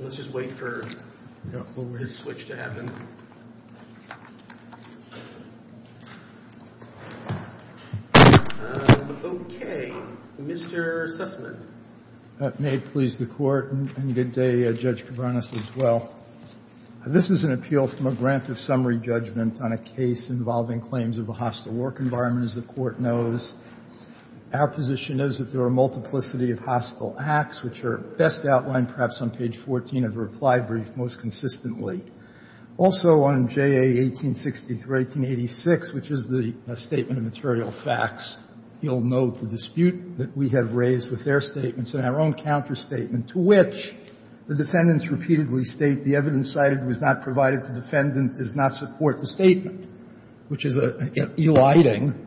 Let's just wait for his switch to happen. Okay, Mr. Sussman. Mr. Sussman, may it please the Court, and good day, Judge Cabranes, as well. This is an appeal from a grant of summary judgment on a case involving claims of a hostile work environment, as the Court knows. Our position is that there are a multiplicity of hostile acts, which are best outlined perhaps on page 14 of the reply brief most consistently. Also, on JA 1860 through 1886, which is the Statement of Material Facts, you'll note the dispute that we have raised with their statements and our own counterstatement, to which the defendants repeatedly state the evidence cited was not provided, the defendant does not support the statement, which is eliding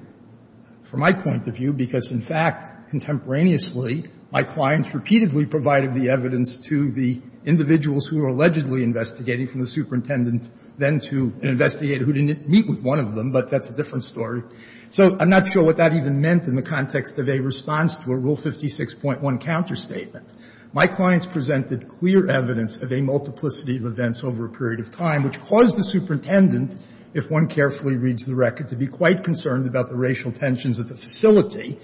from my point of view, because, in fact, contemporaneously, my clients repeatedly provided the evidence to the individuals who were allegedly investigating, from the superintendent then to an investigator who didn't meet with one of them, but that's a different story. So I'm not sure what that even meant in the context of a response to a Rule 56.1 counterstatement. My clients presented clear evidence of a multiplicity of events over a period of time, which caused the superintendent, if one carefully reads the record, to be quite concerned about the racial tensions at the facility,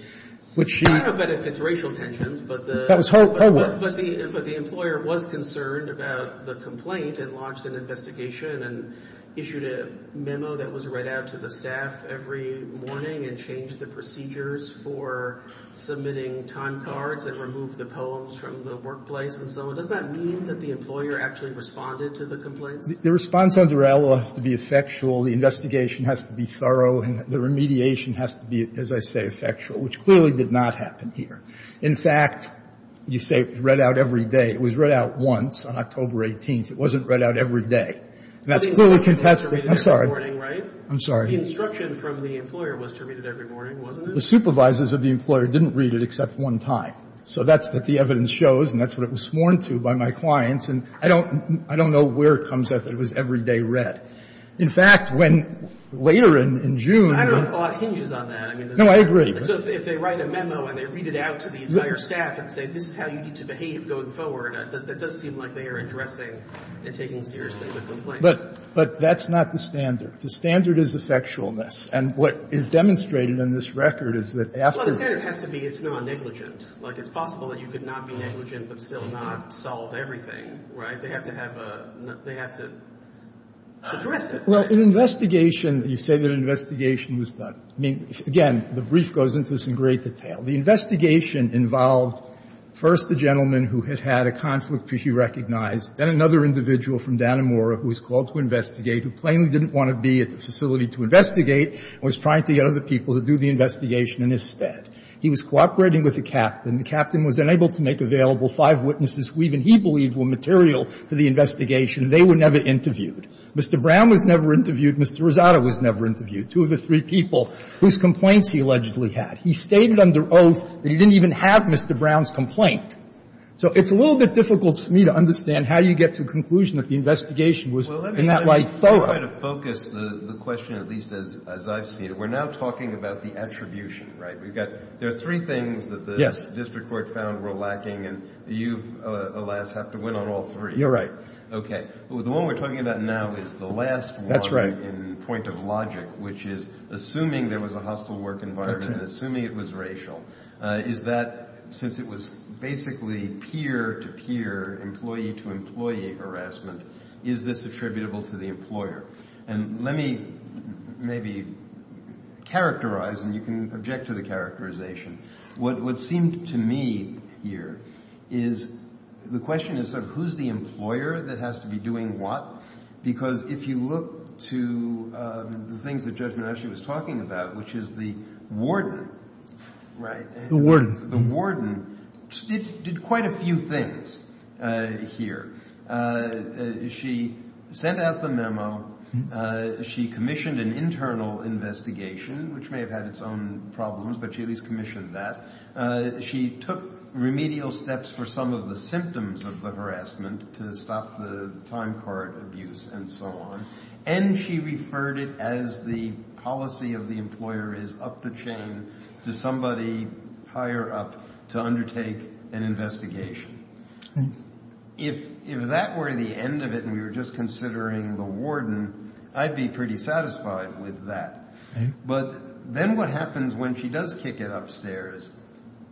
which she — I don't know about if it's racial tensions, but the — That was her words. But the employer was concerned about the complaint and launched an investigation and issued a memo that was read out to the staff every morning and changed the procedures for submitting time cards and removed the poems from the workplace and so on. Does that mean that the employer actually responded to the complaints? The response under ALO has to be effectual. The investigation has to be thorough. The remediation has to be, as I say, effectual, which clearly did not happen here. In fact, you say it was read out every day. It was read out once on October 18th. It wasn't read out every day. And that's clearly contested. I'm sorry. I'm sorry. The instruction from the employer was to read it every morning, wasn't it? The supervisors of the employer didn't read it except one time. So that's what the evidence shows, and that's what it was sworn to by my clients. And I don't know where it comes out that it was every day read. In fact, when later in June — I don't know if a lot hinges on that. No, I agree. So if they write a memo and they read it out to the entire staff and say this is how you need to behave going forward, that does seem like they are addressing and taking seriously the complaint. But that's not the standard. The standard is effectualness. And what is demonstrated in this record is that after — Well, the standard has to be it's not negligent. Like, it's possible that you could not be negligent but still not solve everything. Right? They have to have a — they have to address it. Well, in investigation, you say that an investigation was done. I mean, again, the brief goes into this in great detail. The investigation involved first the gentleman who had had a conflict which he recognized, then another individual from Dannemora who was called to investigate who plainly didn't want to be at the facility to investigate and was trying to get other people to do the investigation in his stead. He was cooperating with a captain. The captain was unable to make available five witnesses who even he believed were material to the investigation. They were never interviewed. Mr. Brown was never interviewed. Mr. Rosado was never interviewed, two of the three people whose complaints he allegedly had. He stated under oath that he didn't even have Mr. Brown's complaint. So it's a little bit difficult for me to understand how you get to the conclusion that the investigation was in that light thorough. Well, let me try to focus the question, at least as I've seen it. We're now talking about the attribution, right? We've got — there are three things that the — Yes. — district court found were lacking, and you, alas, have to win on all three. You're right. Okay. The one we're talking about now is the last one — That's right. — in point of logic, which is assuming there was a hostile work environment and assuming it was racial. Is that, since it was basically peer-to-peer, employee-to-employee harassment, is this attributable to the employer? And let me maybe characterize, and you can object to the characterization. What seemed to me here is the question is sort of who's the employer that has to be doing what? Because if you look to the things that Judge Monashi was talking about, which is the warden, right? The warden. The warden did quite a few things here. She sent out the memo. She commissioned an internal investigation, which may have had its own problems, but she at least commissioned that. She took remedial steps for some of the symptoms of the harassment to stop the time card abuse and so on, and she referred it as the policy of the employer is up the chain to somebody higher up to undertake an investigation. If that were the end of it and we were just considering the warden, I'd be pretty satisfied with that. But then what happens when she does kick it upstairs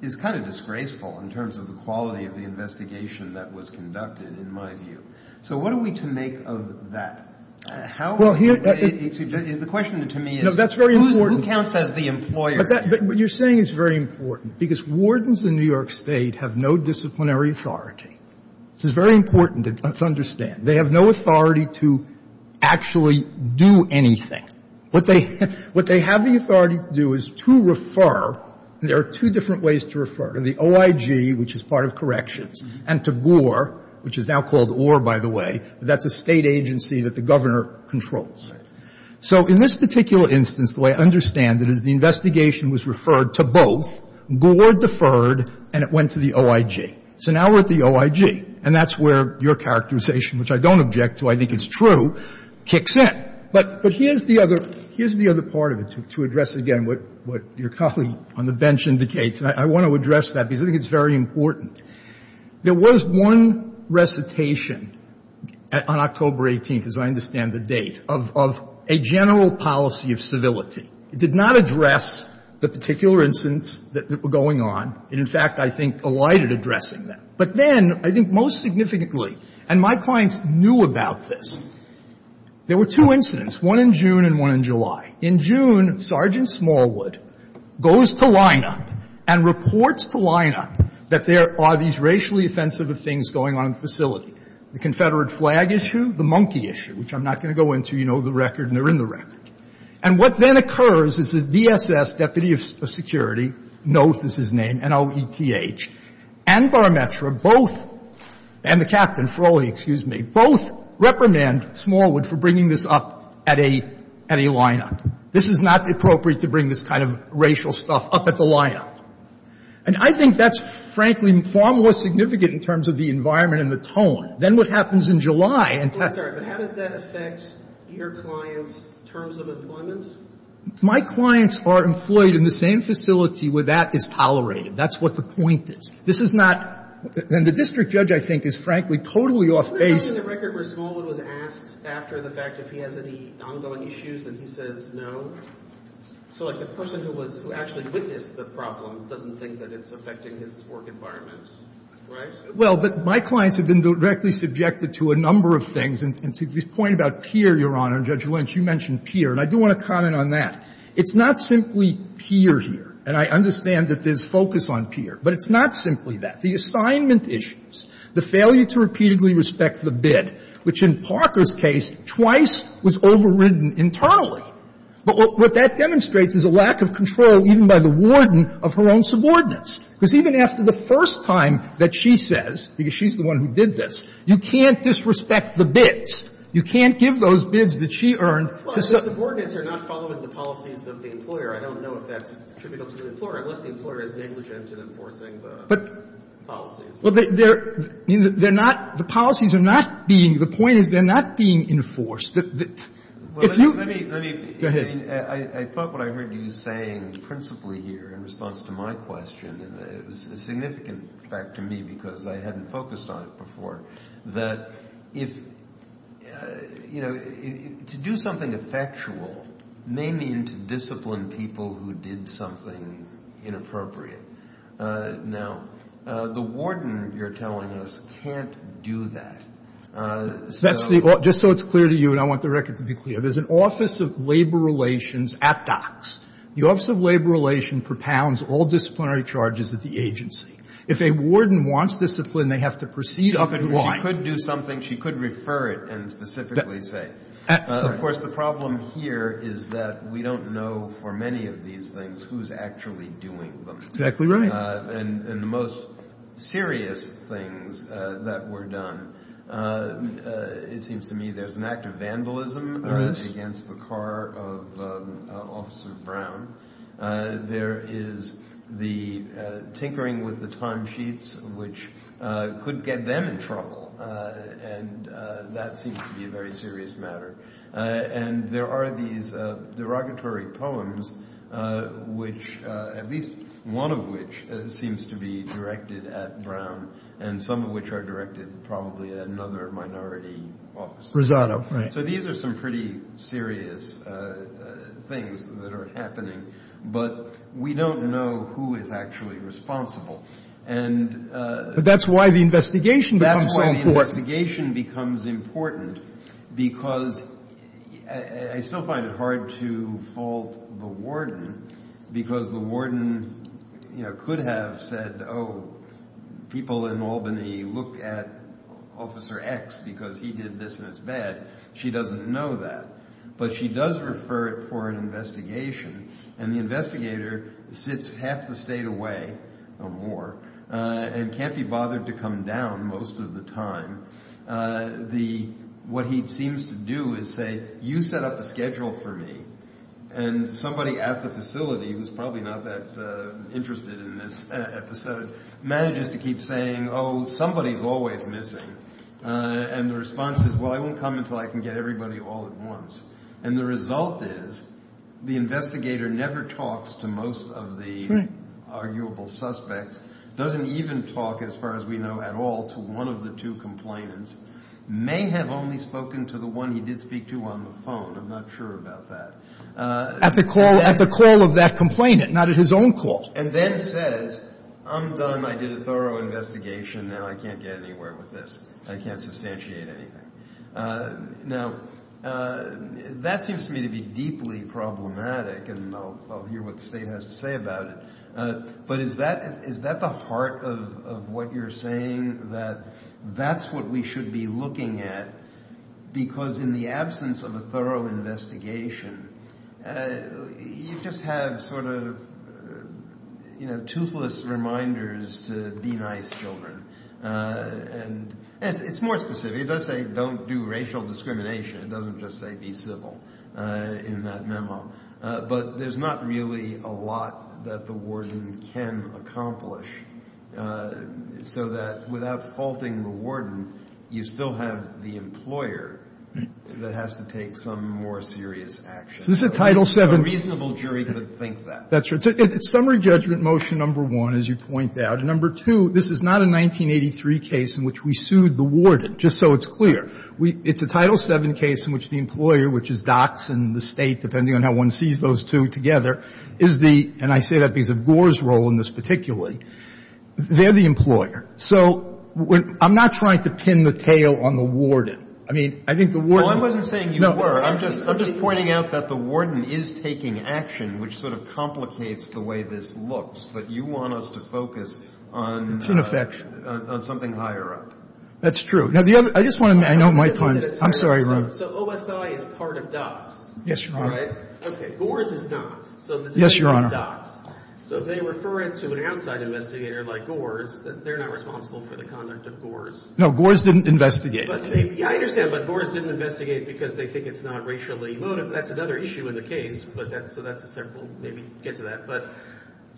is kind of disgraceful in terms of the quality of the investigation that was conducted, in my view. So what are we to make of that? How are we to make it? The question to me is who counts as the employer? But what you're saying is very important, because wardens in New York State have no disciplinary authority. This is very important to understand. They have no authority to actually do anything. What they have the authority to do is to refer. There are two different ways to refer. To the OIG, which is part of corrections, and to GOR, which is now called OR, by the way. That's a State agency that the Governor controls. So in this particular instance, the way I understand it is the investigation was referred to both, GOR deferred, and it went to the OIG. So now we're at the OIG, and that's where your characterization, which I don't object to, I think it's true, kicks in. But here's the other part of it, to address again what your colleague on the bench indicates, and I want to address that because I think it's very important. There was one recitation on October 18th, as I understand the date, of a general policy of civility. It did not address the particular incidents that were going on. It, in fact, I think, collided addressing them. But then, I think most significantly, and my clients knew about this, there were two incidents, one in June and one in July. In June, Sergeant Smallwood goes to lineup and reports to lineup that there are these racially offensive things going on in the facility, the Confederate flag issue, the monkey issue, which I'm not going to go into. You know the record, and they're in the record. And what then occurs is that DSS, deputy of security, Noth is his name, N-O-E-T-H, and Barmetra both, and the captain, Froehlich, excuse me, both reprimand Smallwood for bringing this up at a lineup. This is not appropriate to bring this kind of racial stuff up at the lineup. And I think that's, frankly, far more significant in terms of the environment and the tone than what happens in July. And that's why. But how does that affect your clients' terms of employment? My clients are employed in the same facility where that is tolerated. That's what the point is. This is not — and the district judge, I think, is, frankly, totally off base. But he's in the record where Smallwood was asked after the fact if he has any ongoing issues, and he says no. So, like, the person who was — who actually witnessed the problem doesn't think that it's affecting his work environment. Right? Well, but my clients have been directly subjected to a number of things. And to the point about peer, Your Honor, and Judge Lynch, you mentioned peer. And I do want to comment on that. It's not simply peer here. And I understand that there's focus on peer. But it's not simply that. The assignment issues, the failure to repeatedly respect the bid, which in Parker's case twice was overridden internally, but what that demonstrates is a lack of control even by the warden of her own subordinates. Because even after the first time that she says, because she's the one who did this, you can't disrespect the bids. You can't give those bids that she earned to subordinates. Well, the subordinates are not following the policies of the employer. I don't know if that's attributable to the employer, unless the employer is negligent in enforcing the policies. Well, they're not – the policies are not being – the point is they're not being enforced. If you – Well, let me – Go ahead. I thought what I heard you saying principally here in response to my question, and it was a significant fact to me because I hadn't focused on it before, that if – you know, to do something effectual may mean to discipline people who did something inappropriate. Now, the warden, you're telling us, can't do that. That's the – just so it's clear to you, and I want the record to be clear. There's an Office of Labor Relations ad dox. The Office of Labor Relations propounds all disciplinary charges at the agency. If a warden wants discipline, they have to proceed up and wide. She could do something. She could refer it and specifically say it. Of course, the problem here is that we don't know for many of these things who's actually doing them. Exactly right. And the most serious things that were done – it seems to me there's an act of vandalism against the car of Officer Brown. There is the tinkering with the timesheets, which could get them in trouble, and that seems to be a very serious matter. And there are these derogatory poems, which – at least one of which seems to be directed at Brown, and some of which are directed probably at another minority officer. Rosado, right. But we don't know who is actually responsible. But that's why the investigation becomes so important. That's why the investigation becomes important, because I still find it hard to fault the warden, because the warden could have said, oh, people in Albany look at Officer X because he did this and it's bad. She doesn't know that. But she does refer it for an investigation, and the investigator sits half the state away or more and can't be bothered to come down most of the time. What he seems to do is say, you set up a schedule for me, and somebody at the facility, who's probably not that interested in this episode, manages to keep saying, oh, somebody's always missing. And the response is, well, I won't come until I can get everybody all at once. And the result is the investigator never talks to most of the arguable suspects, doesn't even talk, as far as we know at all, to one of the two complainants, may have only spoken to the one he did speak to on the phone. I'm not sure about that. At the call of that complainant, not at his own call. And then says, I'm done. I did a thorough investigation. Now I can't get anywhere with this. I can't substantiate anything. Now, that seems to me to be deeply problematic, and I'll hear what the state has to say about it. But is that the heart of what you're saying, that that's what we should be looking at? Because in the absence of a thorough investigation, you just have sort of toothless reminders to be nice children. And it's more specific. It does say don't do racial discrimination. It doesn't just say be civil in that memo. But there's not really a lot that the warden can accomplish, so that without faulting the warden, you still have the employer that has to take some more serious action. So this is a Title VII. A reasonable jury could think that. That's right. Summary judgment motion number one, as you point out. And number two, this is not a 1983 case in which we sued the warden, just so it's clear. It's a Title VII case in which the employer, which is docs and the State, depending on how one sees those two together, is the, and I say that because of Gore's role in this particularly, they're the employer. So I'm not trying to pin the tail on the warden. I mean, I think the warden. Well, I wasn't saying you were. I'm just pointing out that the warden is taking action, which sort of complicates the way this looks. But you want us to focus on. It's an affection. On something higher up. That's true. Now, the other, I just want to, I know my time, I'm sorry. So OSI is a part of docs. Yes, Your Honor. Okay. Gore's is docs. Yes, Your Honor. So if they refer it to an outside investigator like Gore's, they're not responsible for the conduct of Gore's. No. Gore's didn't investigate. Yeah, I understand. But Gore's didn't investigate because they think it's not racially emotive. That's another issue in the case. So that's a separate. We'll maybe get to that. But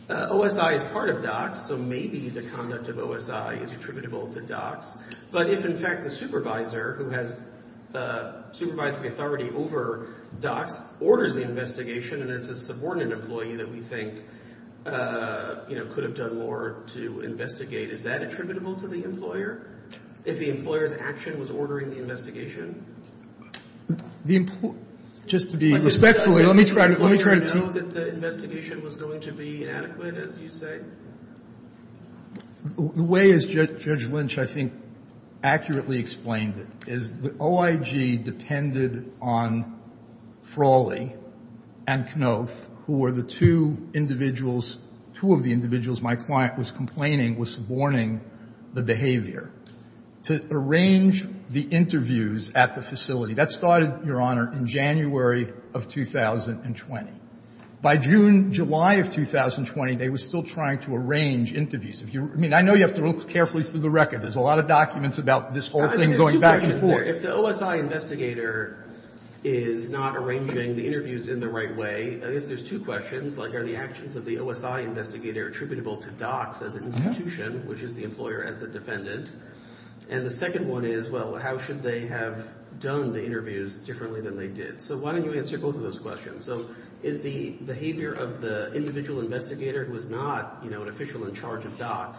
OSI is part of docs. So maybe the conduct of OSI is attributable to docs. But if, in fact, the supervisor who has supervisory authority over docs orders the investigation and it's a subordinate employee that we think, you know, could have done more to investigate, is that attributable to the employer? If the employer's action was ordering the investigation? Just to be respectful, let me try to. Did the employer know that the investigation was going to be inadequate, as you say? The way, as Judge Lynch, I think, accurately explained it, is the OIG depended on Frawley and Knuth, who were the two individuals, two of the individuals my client was complaining was suborning the behavior, to arrange the interviews at the facility. That started, Your Honor, in January of 2020. By June, July of 2020, they were still trying to arrange interviews. I mean, I know you have to look carefully through the record. There's a lot of documents about this whole thing going back and forth. If the OSI investigator is not arranging the interviews in the right way, I guess there's two questions. Like, are the actions of the OSI investigator attributable to docs as an institution, which is the employer as the defendant? And the second one is, well, how should they have done the interviews differently than they did? So why don't you answer both of those questions? So is the behavior of the individual investigator who is not, you know, an official in charge of docs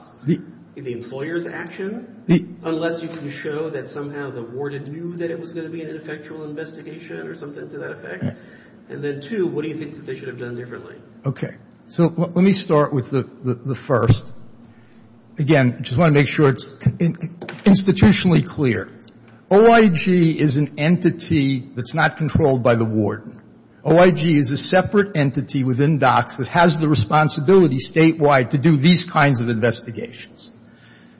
the employer's action? Unless you can show that somehow the warden knew that it was going to be an ineffectual investigation or something to that effect. And then two, what do you think that they should have done differently? Okay. So let me start with the first. Again, I just want to make sure it's institutionally clear. OIG is an entity that's not controlled by the warden. OIG is a separate entity within docs that has the responsibility statewide to do these kinds of investigations.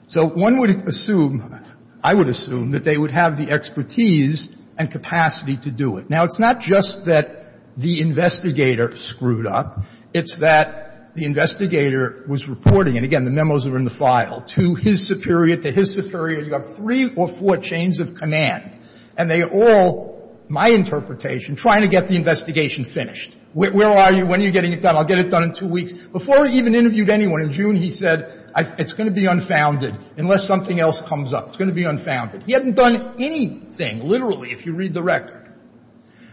So one would assume, I would assume, that they would have the expertise and capacity to do it. Now, it's not just that the investigator screwed up. It's that the investigator was reporting, and again, the memos are in the file, to his superior, to his superior. You have three or four chains of command. And they all, my interpretation, trying to get the investigation finished. Where are you? When are you getting it done? I'll get it done in two weeks. Before he even interviewed anyone in June, he said, it's going to be unfounded unless something else comes up. It's going to be unfounded. He hadn't done anything, literally, if you read the record.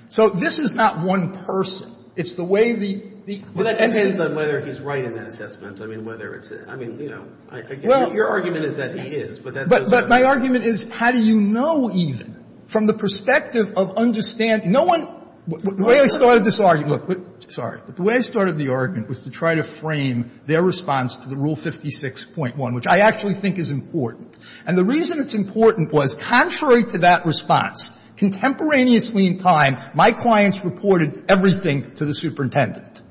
So this is not one person. It's the way the entity is. Well, that depends on whether he's right in that assessment. I mean, whether it's, I mean, you know, your argument is that he is, but that doesn't But my argument is, how do you know, even, from the perspective of understanding No one The way I started this argument Look, sorry. But the way I started the argument was to try to frame their response to the Rule 56.1, which I actually think is important. And the reason it's important was, contrary to that response, contemporaneously in time, my clients reported everything to the superintendent.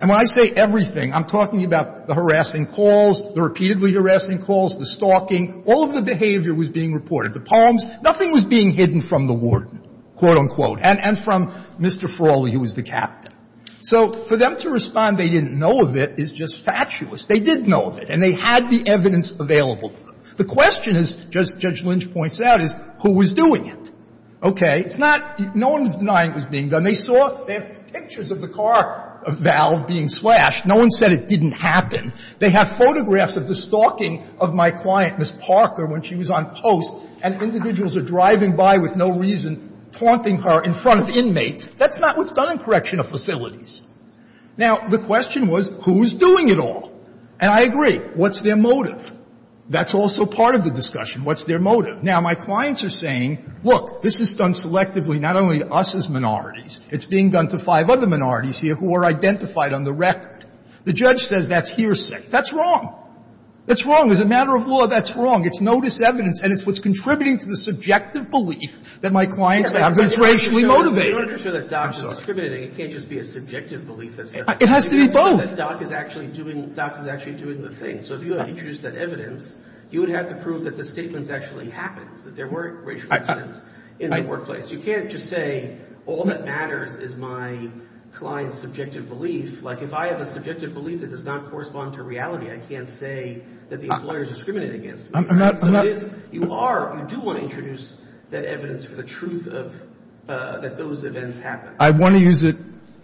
And when I say everything, I'm talking about the harassing calls, the repeatedly harassing calls, the stalking. All of the behavior was being reported. The palms, nothing was being hidden from the warden, quote, unquote. And from Mr. Ferralli, who was the captain. So for them to respond they didn't know of it is just fatuous. They did know of it. And they had the evidence available to them. The question, as Judge Lynch points out, is who was doing it. Okay? It's not no one's denying it was being done. They saw pictures of the car valve being slashed. No one said it didn't happen. They have photographs of the stalking of my client, Ms. Parker, when she was on post, and individuals are driving by with no reason, taunting her in front of inmates. That's not what's done in correctional facilities. Now, the question was, who was doing it all? And I agree. What's their motive? That's also part of the discussion. What's their motive? Now, my clients are saying, look, this is done selectively not only to us as minorities. It's being done to five other minorities here who are identified on the record. The judge says that's hearsay. That's wrong. That's wrong. As a matter of law, that's wrong. It's no disevidence. And it's what's contributing to the subjective belief that my clients have been racially motivated. It has to be both. I want to use it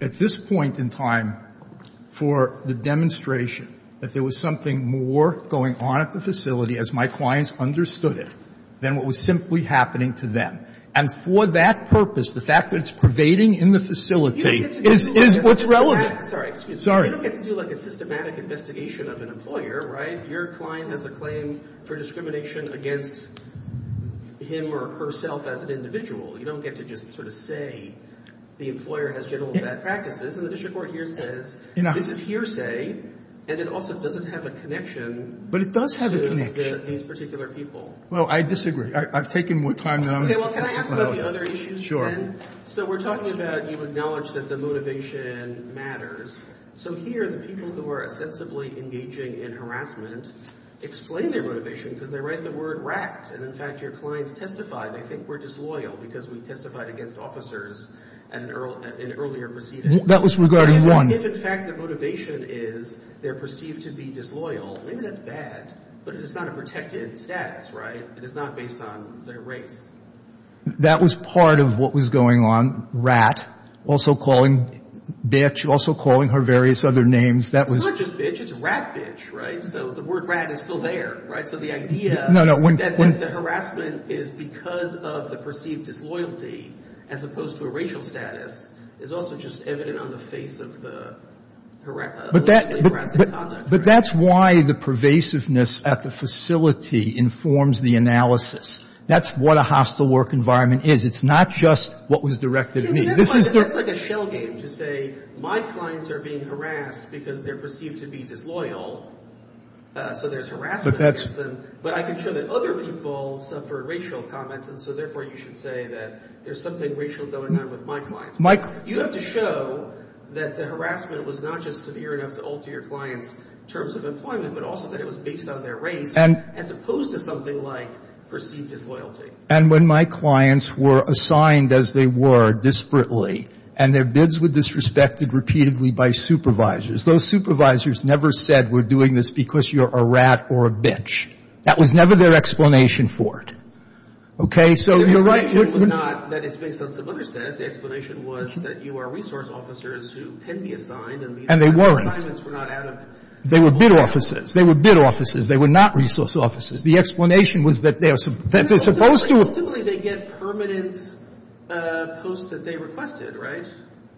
at this point in time for the demonstration that there was something more going on at the facility, as my clients understood it, than what was simply happening to them. And for that purpose, the fact that it's pervading in the facility is what's relevant. Sorry. You don't get to do like a systematic investigation of an employer, right? Your client has a claim for discrimination against him or herself as an individual. You don't get to just sort of say the employer has general bad practices. And the district court here says this is hearsay, and it also doesn't have a connection to these particular people. Well, I disagree. I've taken more time than I'm going to have to. Okay. Well, can I ask about the other issues again? Sure. So we're talking about you acknowledge that the motivation matters. So here, the people who are ostensibly engaging in harassment explain their motivation because they write the word racked. And in fact, your clients testified. They think we're disloyal because we testified against officers in earlier proceedings. That was regarding one. If, in fact, their motivation is they're perceived to be disloyal, maybe that's bad. But it is not a protected status, right? It is not based on their race. That was part of what was going on. Rat, also calling bitch, also calling her various other names. That was – It's not just bitch. It's rat bitch, right? So the word rat is still there, right? So the idea – No, no. The harassment is because of the perceived disloyalty as opposed to a racial status is also just evident on the face of the – But that's why the pervasiveness at the facility informs the analysis. That's what a hostile work environment is. It's not just what was directed at me. That's like a shell game to say my clients are being harassed because they're perceived to be disloyal. So there's harassment against them. But I can show that other people suffer racial comments, and so therefore you should say that there's something racial going on with my clients. You have to show that the harassment was not just severe enough to alter your clients' terms of employment, but also that it was based on their race as opposed to something like perceived disloyalty. And when my clients were assigned as they were, disparately, and their bids were disrespected repeatedly by supervisors, those supervisors never said we're doing this because you're a rat or a bitch. That was never their explanation for it. Okay? So you're right – Their explanation was not that it's based on some other status. The explanation was that you are resource officers who can be assigned – And they weren't. And these assignments were not out of – They were bid offices. They were bid offices. They were not resource offices. The explanation was that they're supposed to – But ultimately they get permanent posts that they requested, right?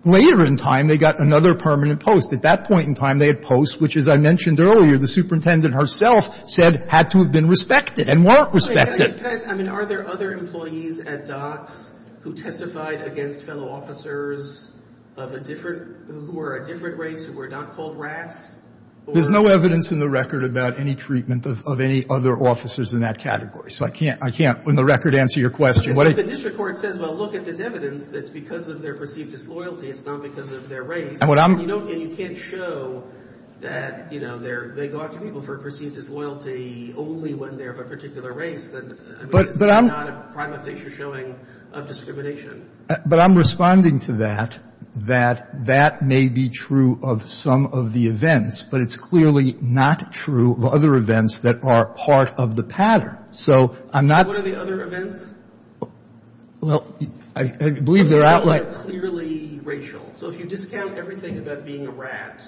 Later in time they got another permanent post. At that point in time they had posts which, as I mentioned earlier, the superintendent herself said had to have been respected and weren't respected. Can I – I mean, are there other employees at DOCS who testified against fellow officers of a different – who were a different race, who were not called rats? There's no evidence in the record about any treatment of any other officers in that category. So I can't – I can't, on the record, answer your question. But the district court says, well, look at this evidence. It's because of their perceived disloyalty. It's not because of their race. And you don't – and you can't show that, you know, they go after people for perceived disloyalty only when they're of a particular race. I mean, it's not a prime of nature showing of discrimination. But I'm responding to that, that that may be true of some of the events, but it's clearly not true of other events that are part of the pattern. So I'm not – What are the other events? Well, I believe there are – So if you discount everything about being a rat,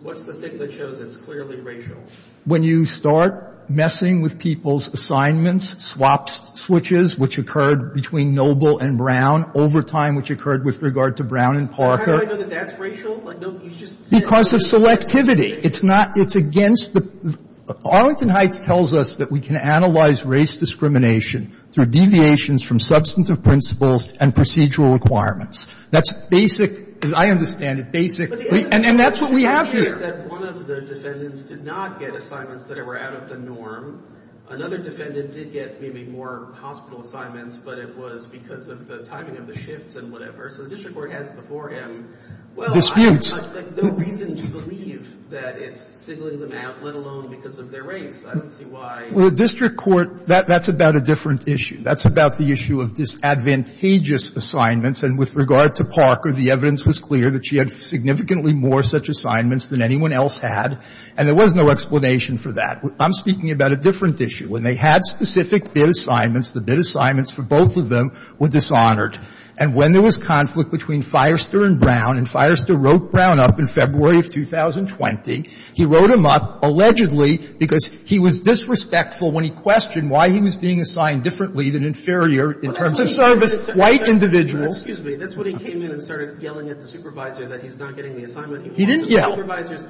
what's the thing that shows it's clearly racial? When you start messing with people's assignments, swap switches, which occurred between Noble and Brown, overtime, which occurred with regard to Brown and Parker. How do I know that that's racial? Because of selectivity. It's not – it's against the – Arlington Heights tells us that we can analyze race discrimination through deviations from substantive principles and procedural requirements. That's basic – as I understand it, basic – And that's what we have here. The idea is that one of the defendants did not get assignments that were out of the norm. Another defendant did get maybe more hospital assignments, but it was because of the timing of the shifts and whatever. So the district court has before him – Disputes. Well, I have no reason to believe that it's singling them out, let alone because of their race. I don't see why – Well, the district court – that's about a different issue. That's about the issue of disadvantageous assignments. And with regard to Parker, the evidence was clear that she had significantly more such assignments than anyone else had. And there was no explanation for that. I'm speaking about a different issue. When they had specific bid assignments, the bid assignments for both of them were dishonored. And when there was conflict between Firester and Brown, and Firester wrote Brown up in February of 2020, he wrote him up allegedly because he was disrespectful when he questioned why he was being assigned differently than inferior in terms of service, white individuals. Excuse me. That's when he came in and started yelling at the supervisor that he's not getting the assignment he wanted. He didn't yell.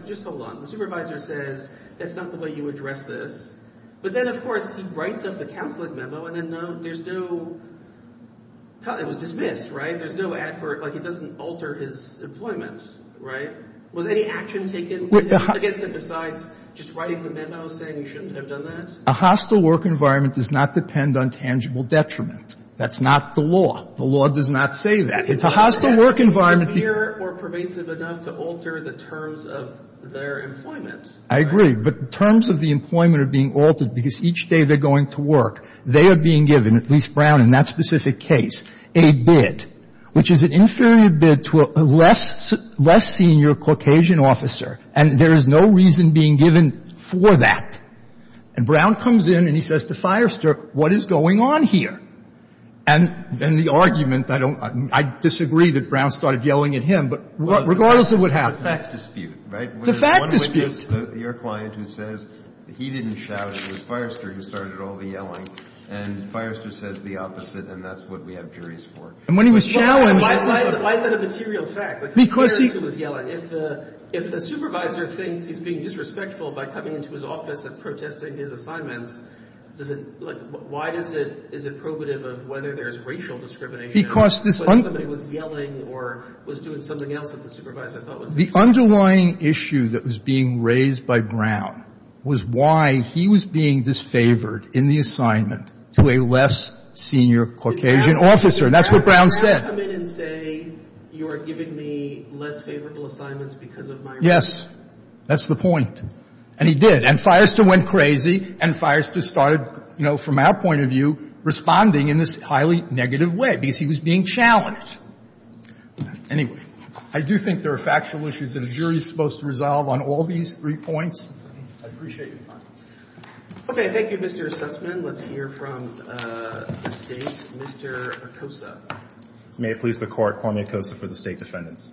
Just hold on. The supervisor says that's not the way you address this. But then, of course, he writes up the counseling memo, and then there's no – it was dismissed, right? There's no ad for – like, it doesn't alter his employment, right? Was any action taken against him besides just writing the memo saying you shouldn't have done that? A hostile work environment does not depend on tangible detriment. That's not the law. The law does not say that. It's a hostile work environment. It's not severe or pervasive enough to alter the terms of their employment. I agree. But terms of the employment are being altered because each day they're going to work, they are being given, at least Brown in that specific case, a bid, which is an inferior bid to a less senior Caucasian officer. And there is no reason being given for that. And Brown comes in and he says to Firester, what is going on here? And the argument, I don't – I disagree that Brown started yelling at him, but regardless of what happened. It's a fact dispute, right? It's a fact dispute. Your client who says he didn't shout, it was Firester who started all the yelling. And Firester says the opposite, and that's what we have juries for. And when he was challenged – Why is that a material fact? Because he – If the supervisor thinks he's being disrespectful by coming into his office and protesting his assignments, does it – why is it probative of whether there is racial discrimination when somebody was yelling or was doing something else that the supervisor thought was disrespectful? The underlying issue that was being raised by Brown was why he was being disfavored in the assignment to a less senior Caucasian officer. And that's what Brown said. Could Brown come in and say you are giving me less favorable assignments because of my race? Yes. That's the point. And he did. And Firester went crazy, and Firester started, you know, from our point of view, responding in this highly negative way because he was being challenged. Anyway, I do think there are factual issues that a jury is supposed to resolve on all these three points. I appreciate your time. Okay. Thank you, Mr. Sussman. Mr. Sussman, let's hear from the State. Mr. Acosa. May it please the Court, Kwame Acosa for the State defendants.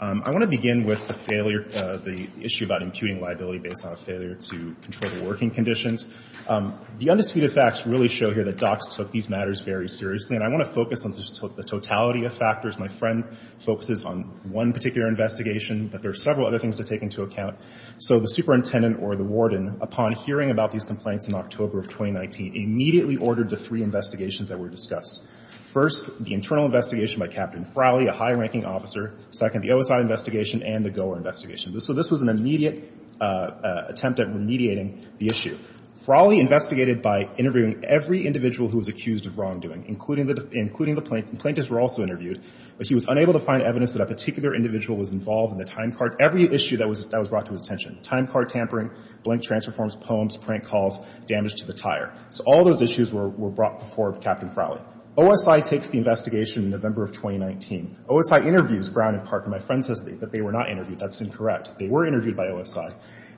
I want to begin with the failure – the issue about imputing liability based on a failure to control the working conditions. The undisputed facts really show here that docs took these matters very seriously. And I want to focus on the totality of factors. My friend focuses on one particular investigation, but there are several other things to take into account. So the superintendent or the warden, upon hearing about these complaints in October of 2019, immediately ordered the three investigations that were discussed. First, the internal investigation by Captain Frawley, a high-ranking officer. Second, the OSI investigation and the Goer investigation. So this was an immediate attempt at remediating the issue. Frawley investigated by interviewing every individual who was accused of wrongdoing, including the plaintiffs who were also interviewed. But he was unable to find evidence that a particular individual was involved in the time card. Every issue that was brought to his attention, time card tampering, blank transfer forms, poems, prank calls, damage to the tire. So all those issues were brought before Captain Frawley. OSI takes the investigation in November of 2019. OSI interviews Brown and Parker. My friend says that they were not interviewed. That's incorrect. They were interviewed by OSI.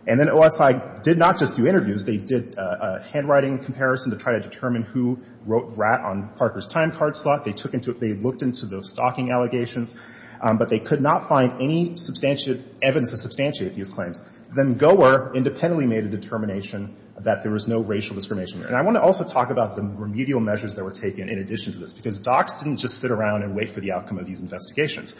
And then OSI did not just do interviews. They did a handwriting comparison to try to determine who wrote rat on Parker's time card slot. They took into – they looked into the stalking allegations. But they could not find any substantive evidence to substantiate these claims. Then Goer independently made a determination that there was no racial discrimination. And I want to also talk about the remedial measures that were taken in addition to this, because docs didn't just sit around and wait for the outcome of these investigations.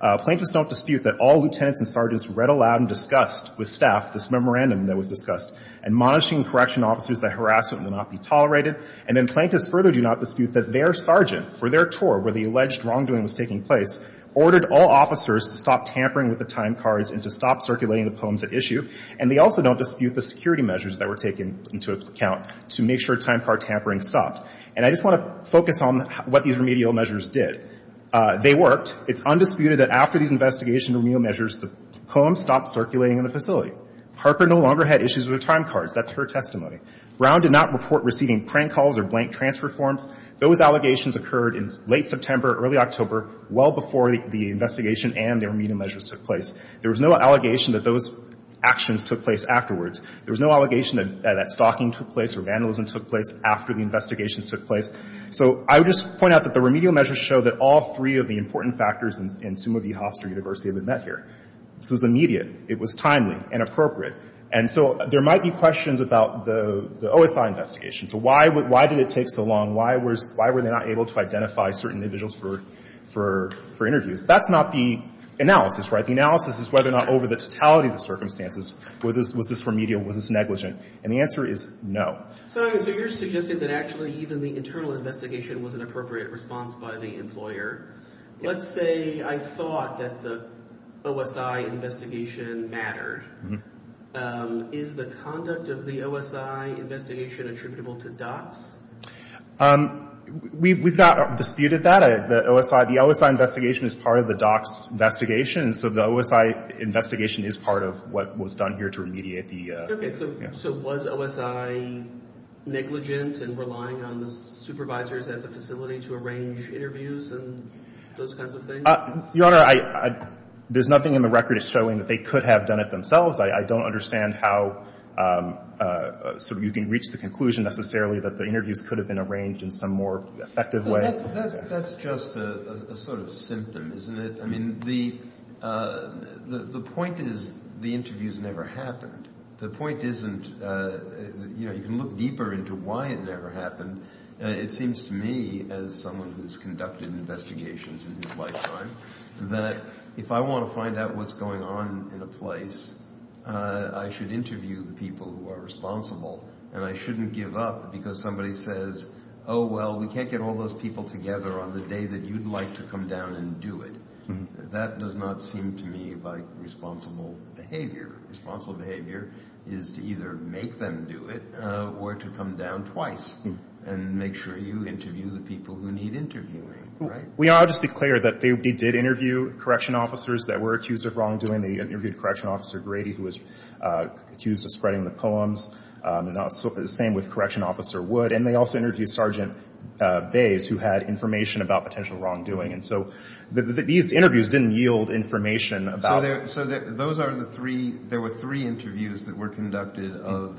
Plaintiffs don't dispute that all lieutenants and sergeants read aloud and discussed with staff this memorandum that was discussed, admonishing correction officers that harassment will not be tolerated. And then plaintiffs further do not dispute that their sergeant, for their tour where the alleged wrongdoing was taking place, ordered all officers to stop tampering with the time cards and to stop circulating the poems at issue. And they also don't dispute the security measures that were taken into account to make sure time card tampering stopped. And I just want to focus on what these remedial measures did. They worked. It's undisputed that after these investigation remedial measures, the poems stopped circulating in the facility. Parker no longer had issues with her time cards. That's her testimony. Brown did not report receiving prank calls or blank transfer forms. Those allegations occurred in late September, early October, well before the investigation and the remedial measures took place. There was no allegation that those actions took place afterwards. There was no allegation that stalking took place or vandalism took place after the investigations took place. So I would just point out that the remedial measures show that all three of the important factors in Summa v. Hofstra University have been met here. This was immediate. It was timely and appropriate. And so there might be questions about the OSI investigation. So why did it take so long? Why were they not able to identify certain individuals for interviews? That's not the analysis, right? The analysis is whether or not over the totality of the circumstances, was this remedial, was this negligent? And the answer is no. So you're suggesting that actually even the internal investigation was an appropriate response by the employer. Let's say I thought that the OSI investigation mattered. Is the conduct of the OSI investigation attributable to DOCS? We've not disputed that. The OSI investigation is part of the DOCS investigation, so the OSI investigation is part of what was done here to remediate the — Okay. So was OSI negligent in relying on the supervisors at the facility to arrange interviews and those kinds of things? Your Honor, there's nothing in the record that's showing that they could have done it themselves. I don't understand how sort of you can reach the conclusion necessarily that the interviews could have been arranged in some more effective way. That's just a sort of symptom, isn't it? I mean, the point is the interviews never happened. The point isn't, you know, you can look deeper into why it never happened. It seems to me, as someone who's conducted investigations in his lifetime, that if I want to find out what's going on in a place, I should interview the people who are responsible, and I shouldn't give up because somebody says, oh, well, we can't get all those people together on the day that you'd like to come down and do it. That does not seem to me like responsible behavior. Responsible behavior is to either make them do it or to come down twice and make sure you interview the people who need interviewing, right? We ought to just be clear that they did interview correction officers that were accused of wrongdoing. They interviewed Correction Officer Grady, who was accused of spreading the poems, and the same with Correction Officer Wood, and they also interviewed Sergeant Bays, who had information about potential wrongdoing. And so these interviews didn't yield information about them. So those are the three – there were three interviews that were conducted of,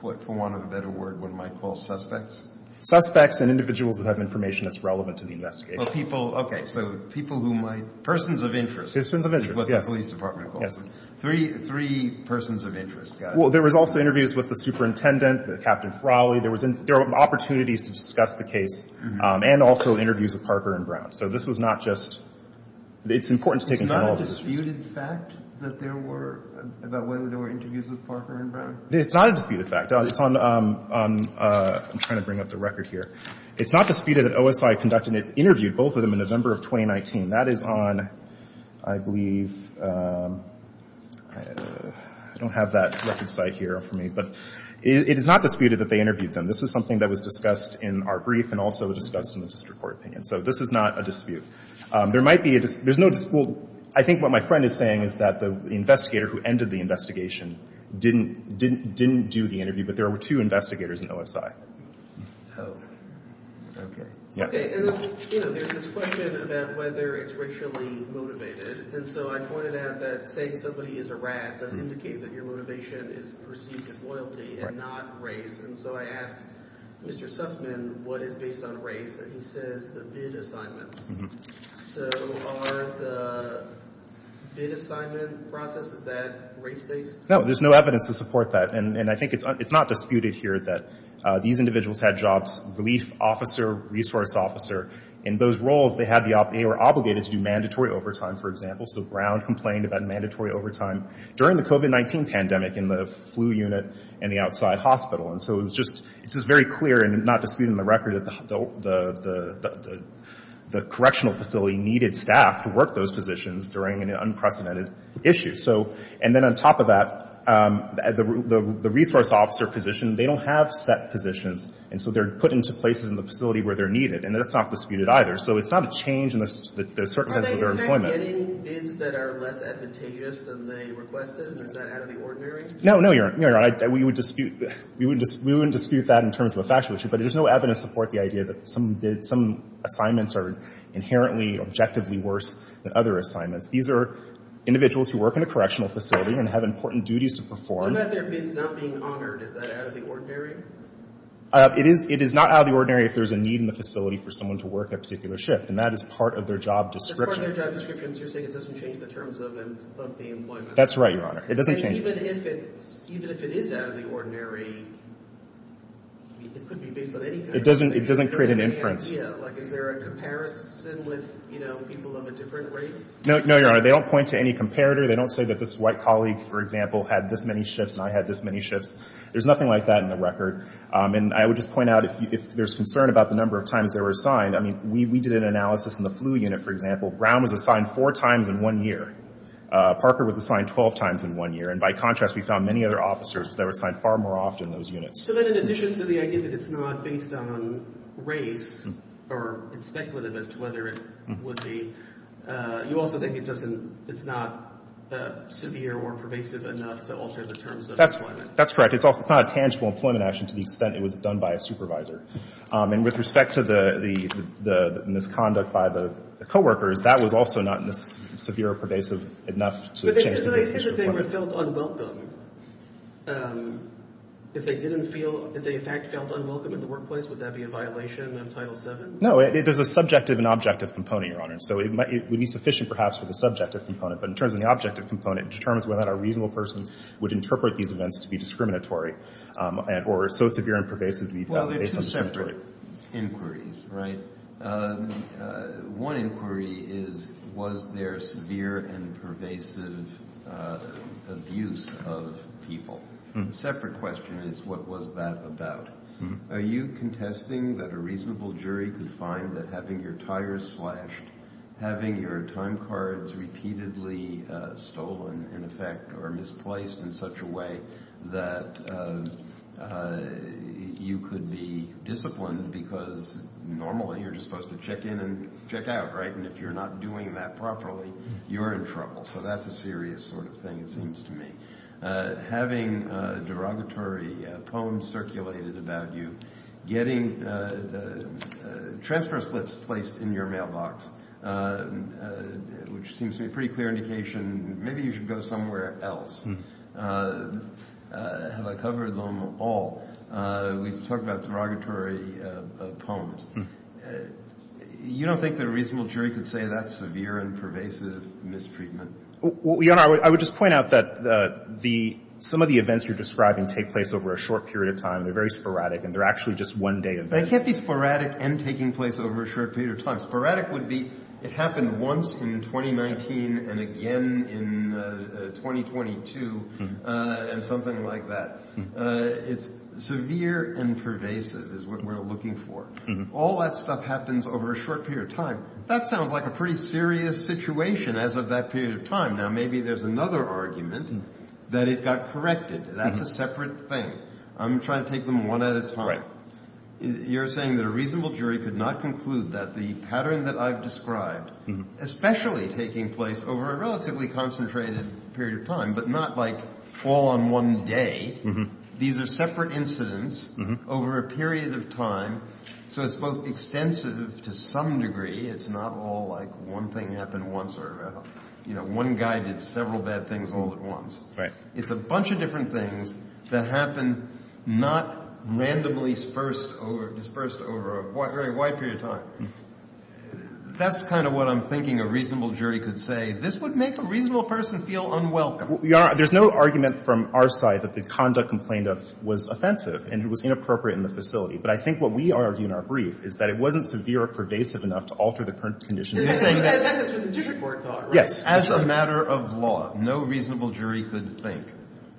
for want of a better word, what one might call suspects? Suspects and individuals who have information that's relevant to the investigation. Well, people – okay, so people who might – persons of interest. Persons of interest, yes. Is what the police department calls them. Yes. Three persons of interest. Well, there was also interviews with the superintendent, Captain Frawley. There were opportunities to discuss the case and also interviews with Parker and Brown. So this was not just – it's important to take into account all of these. It's not a disputed fact that there were – about whether there were interviews with Parker and Brown? It's not a disputed fact. It's on – I'm trying to bring up the record here. It's not disputed that OSI conducted – interviewed both of them in November of 2019. That is on, I believe – I don't have that record site here for me. But it is not disputed that they interviewed them. This is something that was discussed in our brief and also discussed in the district court opinion. So this is not a dispute. There might be a – there's no – well, I think what my friend is saying is that the investigator who ended the investigation didn't do the interview, but there were two investigators in OSI. Oh, okay. Okay, and then there's this question about whether it's racially motivated. And so I pointed out that saying somebody is a rat does indicate that your motivation is perceived as loyalty and not race. And so I asked Mr. Sussman what is based on race, and he says the bid assignments. So are the bid assignment processes that race-based? No, there's no evidence to support that. And I think it's not disputed here that these individuals had jobs, relief officer, resource officer. In those roles, they had the – they were obligated to do mandatory overtime, for example. So Brown complained about mandatory overtime during the COVID-19 pandemic in the flu unit and the outside hospital. And so it was just – it was very clear and not disputed in the record that the correctional facility needed staff to work those positions during an unprecedented issue. So – and then on top of that, the resource officer position, they don't have set positions. And so they're put into places in the facility where they're needed. And that's not disputed either. So it's not a change in the circumstances of their employment. Are they in fact getting bids that are less advantageous than they requested? Is that out of the ordinary? No, no, Your Honor. We would dispute – we wouldn't dispute that in terms of a factual issue. But there's no evidence to support the idea that some bids – some assignments are inherently, objectively worse than other assignments. These are individuals who work in a correctional facility and have important duties to perform. What about their bids not being honored? Is that out of the ordinary? It is – it is not out of the ordinary if there's a need in the facility for someone to work a particular shift. And that is part of their job description. That's part of their job description. So you're saying it doesn't change the terms of the employment? That's right, Your Honor. It doesn't change – And even if it's – even if it is out of the ordinary, it could be based on any kind of – It doesn't – it doesn't create an inference. Like, is there a comparison with, you know, people of a different race? No, Your Honor. They don't point to any comparator. They don't say that this white colleague, for example, had this many shifts and I had this many shifts. There's nothing like that in the record. And I would just point out, if there's concern about the number of times they were assigned, I mean, we did an analysis in the flu unit, for example. Brown was assigned four times in one year. Parker was assigned 12 times in one year. And by contrast, we found many other officers that were assigned far more often in those units. So then in addition to the idea that it's not based on race or it's speculative as to whether it would be – you also think it doesn't – it's not severe or pervasive enough to alter the terms of employment? That's correct. It's not a tangible employment action to the extent it was done by a supervisor. And with respect to the misconduct by the coworkers, that was also not severe or pervasive enough to change the terms of employment. If they didn't feel – if they, in fact, felt unwelcome in the workplace, would that be a violation of Title VII? No. There's a subjective and objective component, Your Honor. So it would be sufficient, perhaps, for the subjective component. But in terms of the objective component, it determines whether or not a reasonable person would interpret these events to be discriminatory or so severe and pervasive to be based on discriminatory. Well, they're two separate inquiries, right? One inquiry is was there severe and pervasive abuse of people? A separate question is what was that about? Are you contesting that a reasonable jury could find that having your tires slashed, having your time cards repeatedly stolen, in effect, or misplaced in such a way that you could be disciplined because normally you're just supposed to check in and check out, right? And if you're not doing that properly, you're in trouble. So that's a serious sort of thing, it seems to me. Having derogatory poems circulated about you, getting transfer slips placed in your mailbox, which seems to be a pretty clear indication maybe you should go somewhere else. Have I covered them all? We've talked about derogatory poems. You don't think that a reasonable jury could say that's severe and pervasive mistreatment? Well, Your Honor, I would just point out that some of the events you're describing take place over a short period of time. They're very sporadic, and they're actually just one day events. They can't be sporadic and taking place over a short period of time. Sporadic would be it happened once in 2019 and again in 2022 and something like that. It's severe and pervasive is what we're looking for. All that stuff happens over a short period of time. That sounds like a pretty serious situation as of that period of time. Now, maybe there's another argument that it got corrected. That's a separate thing. I'm trying to take them one at a time. You're saying that a reasonable jury could not conclude that the pattern that I've described, especially taking place over a relatively concentrated period of time, but not like all on one day. These are separate incidents over a period of time. So it's both extensive to some degree. It's not all like one thing happened once or one guy did several bad things all at once. It's a bunch of different things that happen, not randomly dispersed over a very wide period of time. That's kind of what I'm thinking a reasonable jury could say. This would make a reasonable person feel unwelcome. There's no argument from our side that the conduct complained of was offensive and it was inappropriate in the facility. But I think what we argue in our brief is that it wasn't severe or pervasive enough to alter the current condition. That's what the jury court thought, right? Yes. As a matter of law, no reasonable jury could think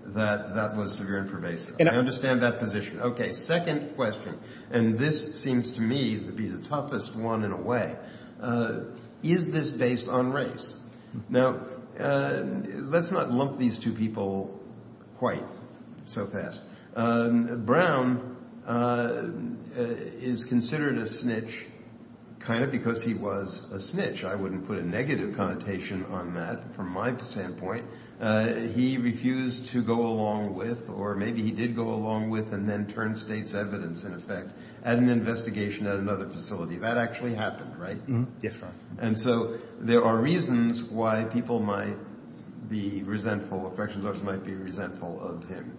that that was severe and pervasive. I understand that position. Okay, second question, and this seems to me to be the toughest one in a way. Is this based on race? Now, let's not lump these two people quite so fast. Brown is considered a snitch kind of because he was a snitch. I wouldn't put a negative connotation on that from my standpoint. He refused to go along with, or maybe he did go along with and then turn state's evidence, in effect, at an investigation at another facility. That actually happened, right? Yes, Your Honor. And so there are reasons why people might be resentful, corrections officers might be resentful of him.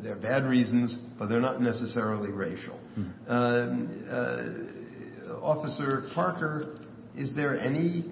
There are bad reasons, but they're not necessarily racial. Officer Parker, is there any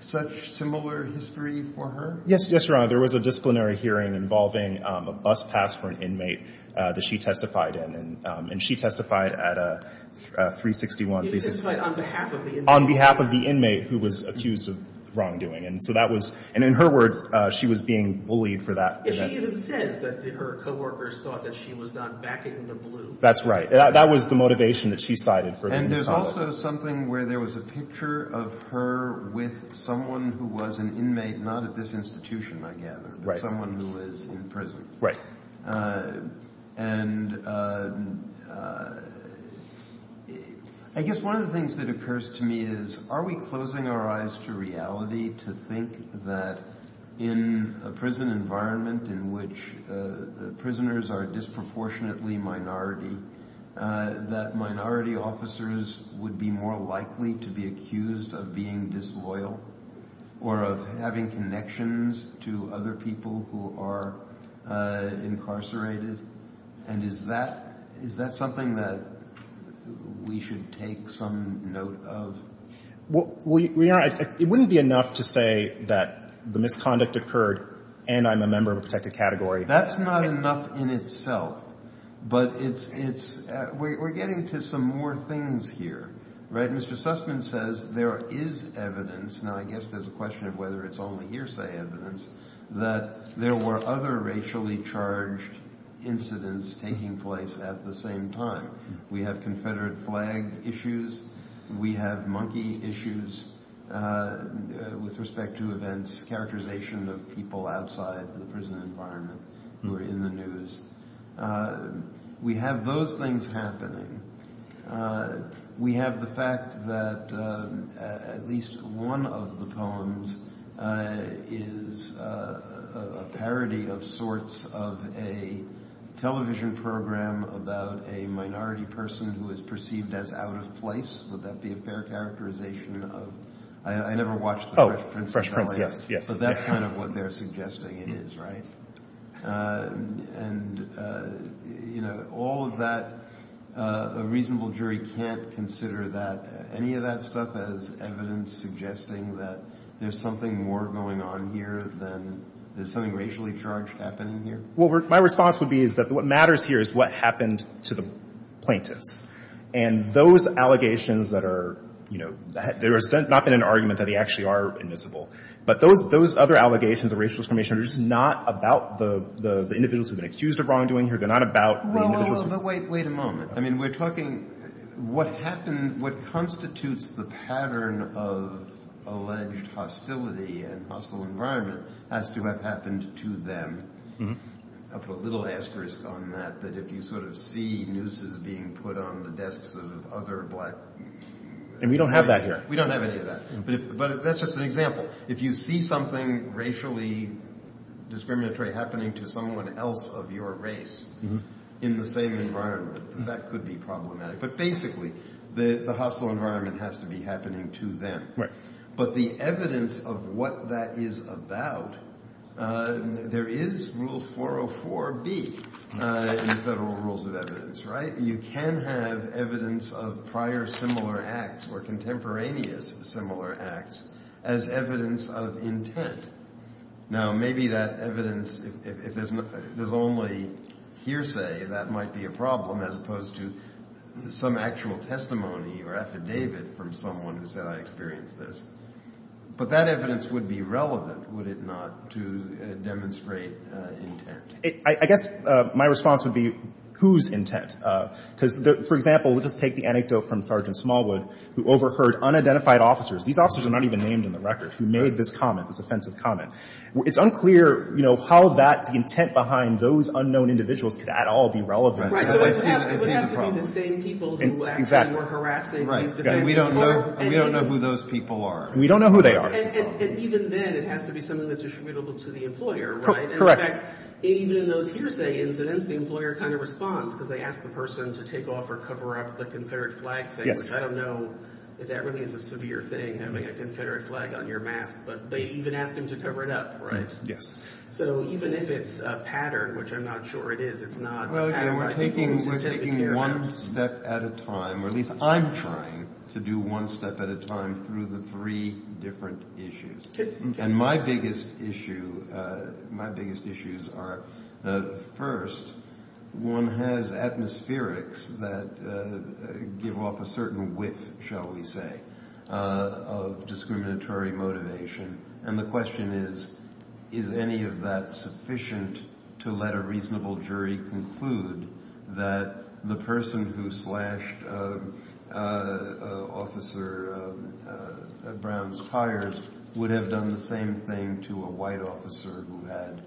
such similar history for her? Yes, Your Honor. There was a disciplinary hearing involving a bus pass for an inmate that she testified in, and she testified at a 361. You testified on behalf of the inmate. On behalf of the inmate who was accused of wrongdoing. And so that was, and in her words, she was being bullied for that. She even says that her coworkers thought that she was not backing the blue. That's right. That was the motivation that she cited for the misconduct. And there's also something where there was a picture of her with someone who was an inmate, not at this institution, I gather, but someone who was in prison. Right. And I guess one of the things that occurs to me is are we closing our eyes to reality to think that in a prison environment in which prisoners are disproportionately minority, that minority officers would be more likely to be accused of being disloyal or of having connections to other people who are incarcerated? And is that something that we should take some note of? Well, Your Honor, it wouldn't be enough to say that the misconduct occurred and I'm a member of a protected category. That's not enough in itself. But it's – we're getting to some more things here, right? Mr. Sussman says there is evidence. Now, I guess there's a question of whether it's only hearsay evidence that there were other racially charged incidents taking place at the same time. We have confederate flag issues. We have monkey issues with respect to events, characterization of people outside the prison environment who are in the news. We have those things happening. We have the fact that at least one of the poems is a parody of sorts of a television program about a minority person who is perceived as out of place. Would that be a fair characterization of – I never watched The Fresh Prince of Bel-Air. So that's kind of what they're suggesting it is, right? And, you know, all of that – a reasonable jury can't consider that – any of that stuff as evidence suggesting that there's something more going on here than there's something racially charged happening here? Well, my response would be is that what matters here is what happened to the plaintiffs. And those allegations that are – you know, there has not been an argument that they actually are admissible. But those other allegations of racial discrimination are just not about the individuals who have been accused of wrongdoing here. They're not about the individuals who – Well, hold on. Wait a moment. I mean, we're talking – what happened – what constitutes the pattern of alleged hostility and hostile environment has to have happened to them. I'll put a little asterisk on that, that if you sort of see nooses being put on the desks of other black – And we don't have that here. We don't have any of that. But that's just an example. If you see something racially discriminatory happening to someone else of your race in the same environment, that could be problematic. But basically the hostile environment has to be happening to them. But the evidence of what that is about – there is Rule 404B in the Federal Rules of Evidence, right? You can have evidence of prior similar acts or contemporaneous similar acts as evidence of intent. Now, maybe that evidence – if there's only hearsay, that might be a problem as opposed to some actual testimony or affidavit from someone who said I experienced this. But that evidence would be relevant, would it not, to demonstrate intent? I guess my response would be whose intent? Because, for example, we'll just take the anecdote from Sergeant Smallwood, who overheard unidentified officers – these officers are not even named in the record – who made this comment, this offensive comment. It's unclear, you know, how that – the intent behind those unknown individuals could at all be relevant. So it would have to be the same people who actually were harassing these defendants. And we don't know who those people are. We don't know who they are. And even then, it has to be something that's attributable to the employer, right? Correct. In fact, even in those hearsay incidents, the employer kind of responds because they ask the person to take off or cover up the Confederate flag thing. Yes. I don't know if that really is a severe thing, having a Confederate flag on your mask, but they even ask him to cover it up, right? Yes. So even if it's a pattern, which I'm not sure it is, it's not – Well, again, we're taking one step at a time, or at least I'm trying to do one step at a time through the three different issues. And my biggest issue – my biggest issues are, first, one has atmospherics that give off a certain whiff, shall we say, of discriminatory motivation. And the question is, is any of that sufficient to let a reasonable jury conclude that the person who slashed Officer Brown's tires would have done the same thing to a white officer who had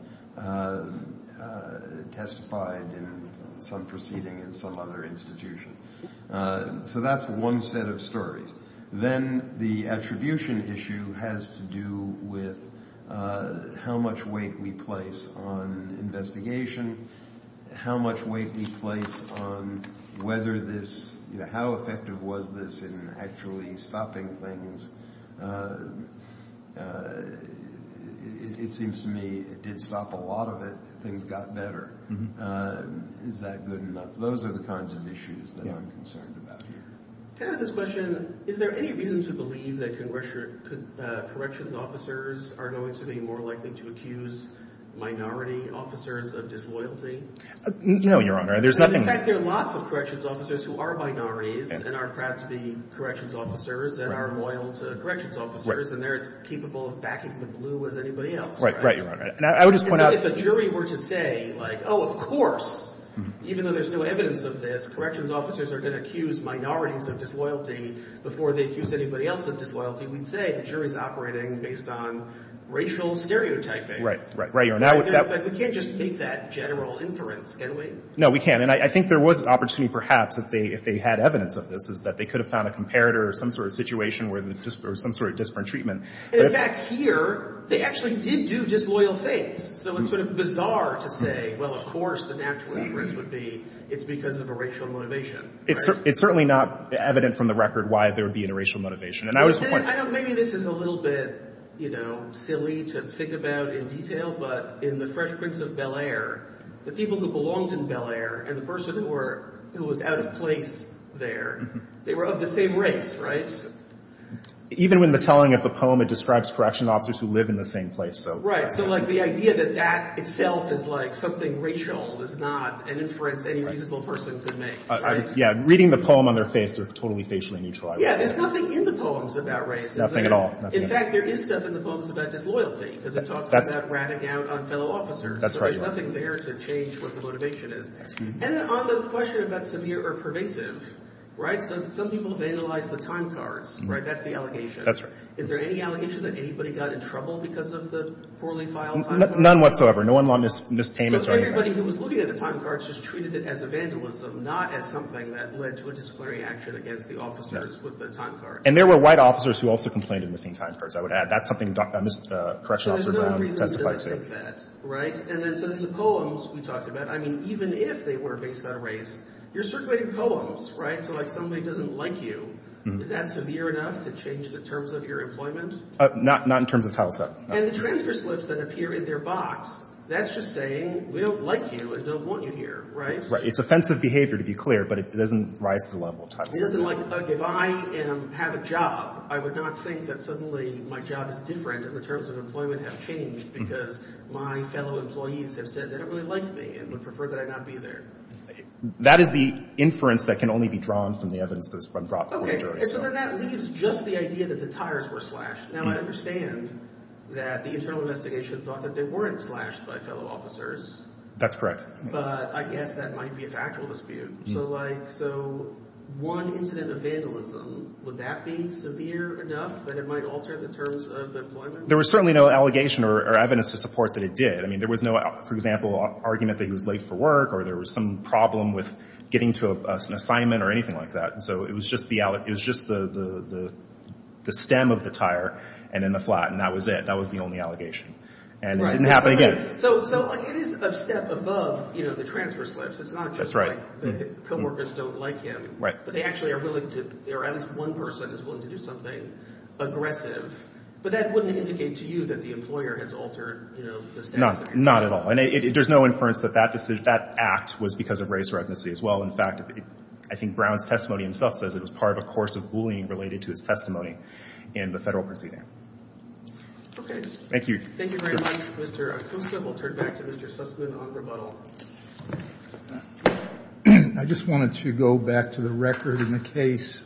testified in some proceeding in some other institution? So that's one set of stories. Then the attribution issue has to do with how much weight we place on investigation, how much weight we place on whether this – how effective was this in actually stopping things? It seems to me it did stop a lot of it. Things got better. Is that good enough? Those are the kinds of issues that I'm concerned about here. Can I ask this question? Is there any reason to believe that corrections officers are going to be more likely to accuse minority officers of disloyalty? No, Your Honor. There's nothing – In fact, there are lots of corrections officers who are minorities and are proud to be corrections officers and are loyal to corrections officers, and they're as capable of backing the blue as anybody else. Right, right, Your Honor. And I would just point out – Right, right, right, Your Honor. We can't just make that general inference, can we? No, we can't. And I think there was an opportunity, perhaps, if they had evidence of this, is that they could have found a comparator or some sort of situation where the – or some sort of disparate treatment. In fact, here, they actually did do disloyal things. So it's sort of bizarre to say that they were disloyal. Well, of course, the natural inference would be it's because of a racial motivation. It's certainly not evident from the record why there would be a racial motivation. And I was – Maybe this is a little bit, you know, silly to think about in detail, but in The Fresh Prince of Bel-Air, the people who belonged in Bel-Air and the person who was out of place there, they were of the same race, right? Even in the telling of the poem, it describes corrections officers who live in the same place. Right. So, like, the idea that that itself is, like, something racial is not an inference any reasonable person could make, right? Yeah. Reading the poem on their face, they're totally facially neutral. Yeah. There's nothing in the poems about race. Nothing at all. In fact, there is stuff in the poems about disloyalty because it talks about ratting out on fellow officers. That's right. So there's nothing there to change what the motivation is. And then on the question about severe or pervasive, right? So some people vandalize the time cards, right? That's the allegation. That's right. Is there any allegation that anybody got in trouble because of the poorly filed time cards? None whatsoever. No one lost his payments or anything. So everybody who was looking at the time cards just treated it as a vandalism, not as something that led to a disciplinary action against the officers with the time cards. And there were white officers who also complained of missing time cards, I would add. That's something Correctional Officer Brown testified to. There's no reason to think that, right? And then so in the poems we talked about, I mean, even if they were based on race, you're circulating poems, right? So like somebody doesn't like you, is that severe enough to change the terms of your employment? Not in terms of Title VII. And the transfer slips that appear in their box, that's just saying we don't like you and don't want you here, right? Right. It's offensive behavior, to be clear, but it doesn't rise to the level of Title VII. It isn't like if I have a job, I would not think that suddenly my job is different and the terms of employment have changed because my fellow employees have said they don't really like me and would prefer that I not be there. That is the inference that can only be drawn from the evidence that's been brought before the jury. And so then that leaves just the idea that the tires were slashed. Now, I understand that the internal investigation thought that they weren't slashed by fellow officers. That's correct. But I guess that might be a factual dispute. So like so one incident of vandalism, would that be severe enough that it might alter the terms of employment? There was certainly no allegation or evidence to support that it did. I mean, there was no, for example, argument that he was late for work or there was some problem with getting to an assignment or anything like that. So it was just the stem of the tire and then the flat, and that was it. That was the only allegation. And it didn't happen again. So it is a step above the transfer slips. It's not just like the co-workers don't like him, but they actually are willing to – or at least one person is willing to do something aggressive. But that wouldn't indicate to you that the employer has altered, you know, the status of their – No, not at all. And there's no inference that that act was because of race or ethnicity as well. In fact, I think Brown's testimony himself says it was part of a course of bullying related to his testimony in the Federal proceeding. Okay. Thank you. Thank you very much, Mr. Acosta. We'll turn back to Mr. Sussman on rebuttal. I just wanted to go back to the record in the case.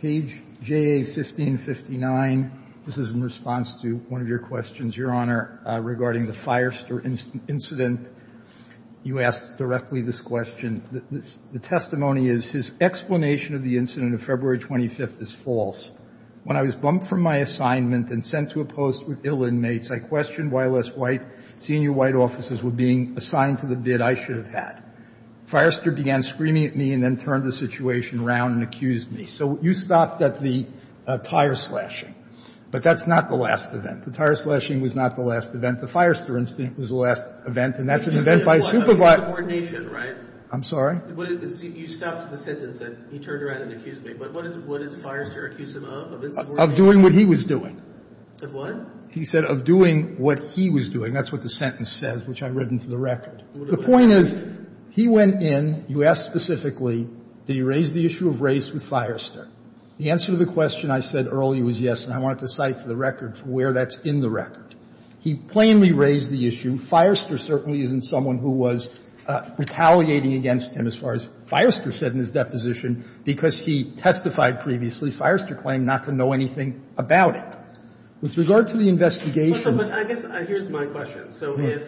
Page JA-1559. This is in response to one of your questions, Your Honor, regarding the Firester incident. You asked directly this question. The testimony is, His explanation of the incident of February 25th is false. When I was bumped from my assignment and sent to a post with ill inmates, I questioned why less white senior white officers were being assigned to the bid I should have had. Firester began screaming at me and then turned the situation around and accused me. So you stopped at the tire slashing. But that's not the last event. The tire slashing was not the last event. The Firester incident was the last event. And that's an event by a supervisor. You did it by insubordination, right? I'm sorry? You stopped at the sentence that he turned around and accused me. But what did Firester accuse him of, of insubordination? Of doing what he was doing. Of what? He said of doing what he was doing. That's what the sentence says, which I've written to the record. The point is, he went in. You asked specifically, did he raise the issue of race with Firester? The answer to the question I said earlier was yes, and I wanted to cite to the record where that's in the record. He plainly raised the issue. Firester certainly isn't someone who was retaliating against him, as far as Firester said in his deposition, because he testified previously, Firester claimed not to know anything about it. With regard to the investigation. I guess here's my question. So if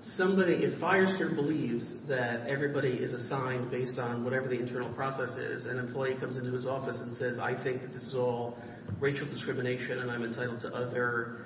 somebody, if Firester believes that everybody is assigned based on whatever the internal process is, an employee comes into his office and says, I think that this is all racial discrimination and I'm entitled to other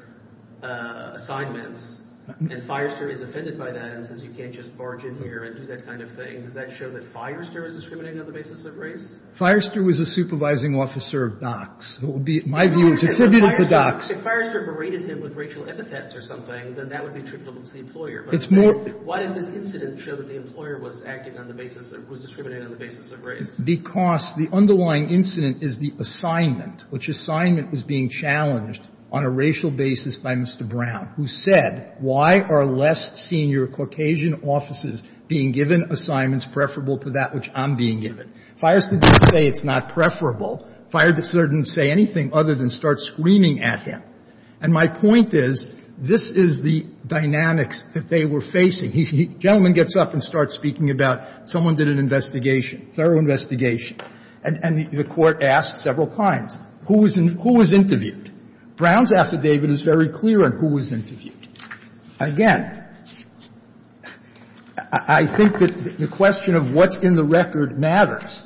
assignments, and Firester is offended by that and says you can't just barge in here and do that kind of thing, does that show that Firester is discriminating on the basis of race? Firester was a supervising officer of DOCS. It would be, my view, it's attributed to DOCS. If Firester berated him with racial epithets or something, then that would be attributable to the employer. It's more. Why does this incident show that the employer was acting on the basis, was discriminating on the basis of race? Because the underlying incident is the assignment, which assignment was being challenged on a racial basis by Mr. Brown, who said, why are less senior Caucasian offices being given assignments preferable to that which I'm being given? Firester didn't say it's not preferable. Firester didn't say anything other than start screaming at him. And my point is, this is the dynamics that they were facing. The gentleman gets up and starts speaking about someone did an investigation, thorough investigation, and the Court asked several times, who was interviewed? Brown's affidavit is very clear on who was interviewed. Again, I think that the question of what's in the record matters.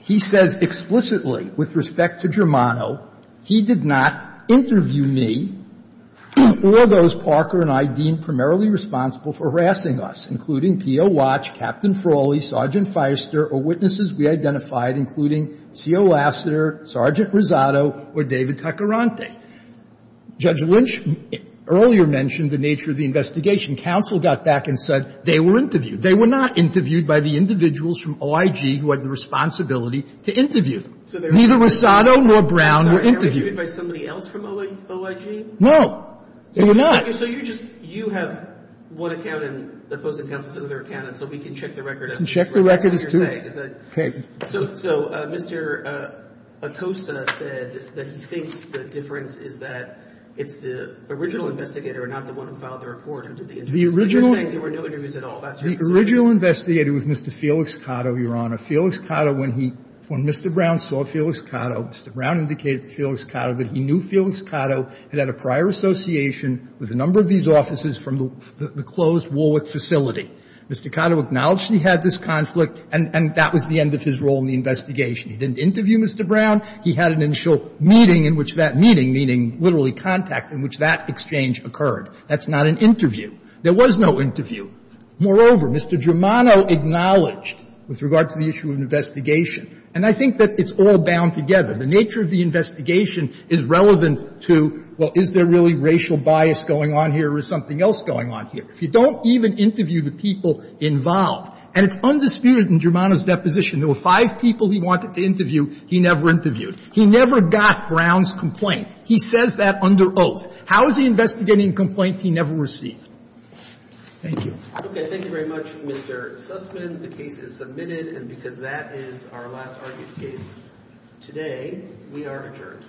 He says explicitly, with respect to Germano, he did not interview me or those Parker and I deemed primarily responsible for harassing us, including P.O. Watch, Captain Frawley, Sergeant Firester, or witnesses we identified, including C.O. Lassiter, Sergeant Rosado, or David Taccarante. Judge Lynch earlier mentioned the nature of the investigation. Counsel got back and said they were interviewed. They were not interviewed by the individuals from OIG who had the responsibility to interview them. Neither Rosado nor Brown were interviewed. Are they interviewed by somebody else from OIG? No. They were not. So you're just you have one accountant opposing counsel to another accountant so we can check the record. We can check the record as to what you're saying. Okay. So Mr. Acosa said that he thinks the difference is that it's the original investigator and not the one who filed the report who did the interview. The original? The original investigator was Mr. Felix Cotto, Your Honor. Felix Cotto, when he, when Mr. Brown saw Felix Cotto, Mr. Brown indicated to Felix Cotto that he knew Felix Cotto, had had a prior association with a number of these officers from the closed Warwick facility. Mr. Cotto acknowledged he had this conflict, and that was the end of his role in the investigation. He didn't interview Mr. Brown. He had an initial meeting in which that meeting, meaning literally contact, in which that exchange occurred. That's not an interview. There was no interview. Moreover, Mr. Germano acknowledged, with regard to the issue of investigation, and I think that it's all bound together. The nature of the investigation is relevant to, well, is there really racial bias going on here or is something else going on here? If you don't even interview the people involved, and it's undisputed in Germano's deposition. There were five people he wanted to interview. He never interviewed. He never got Brown's complaint. He says that under oath. How is he investigating a complaint he never received? Thank you. Thank you very much, Mr. Sussman. The case is submitted. And because that is our last argued case today, we are adjourned.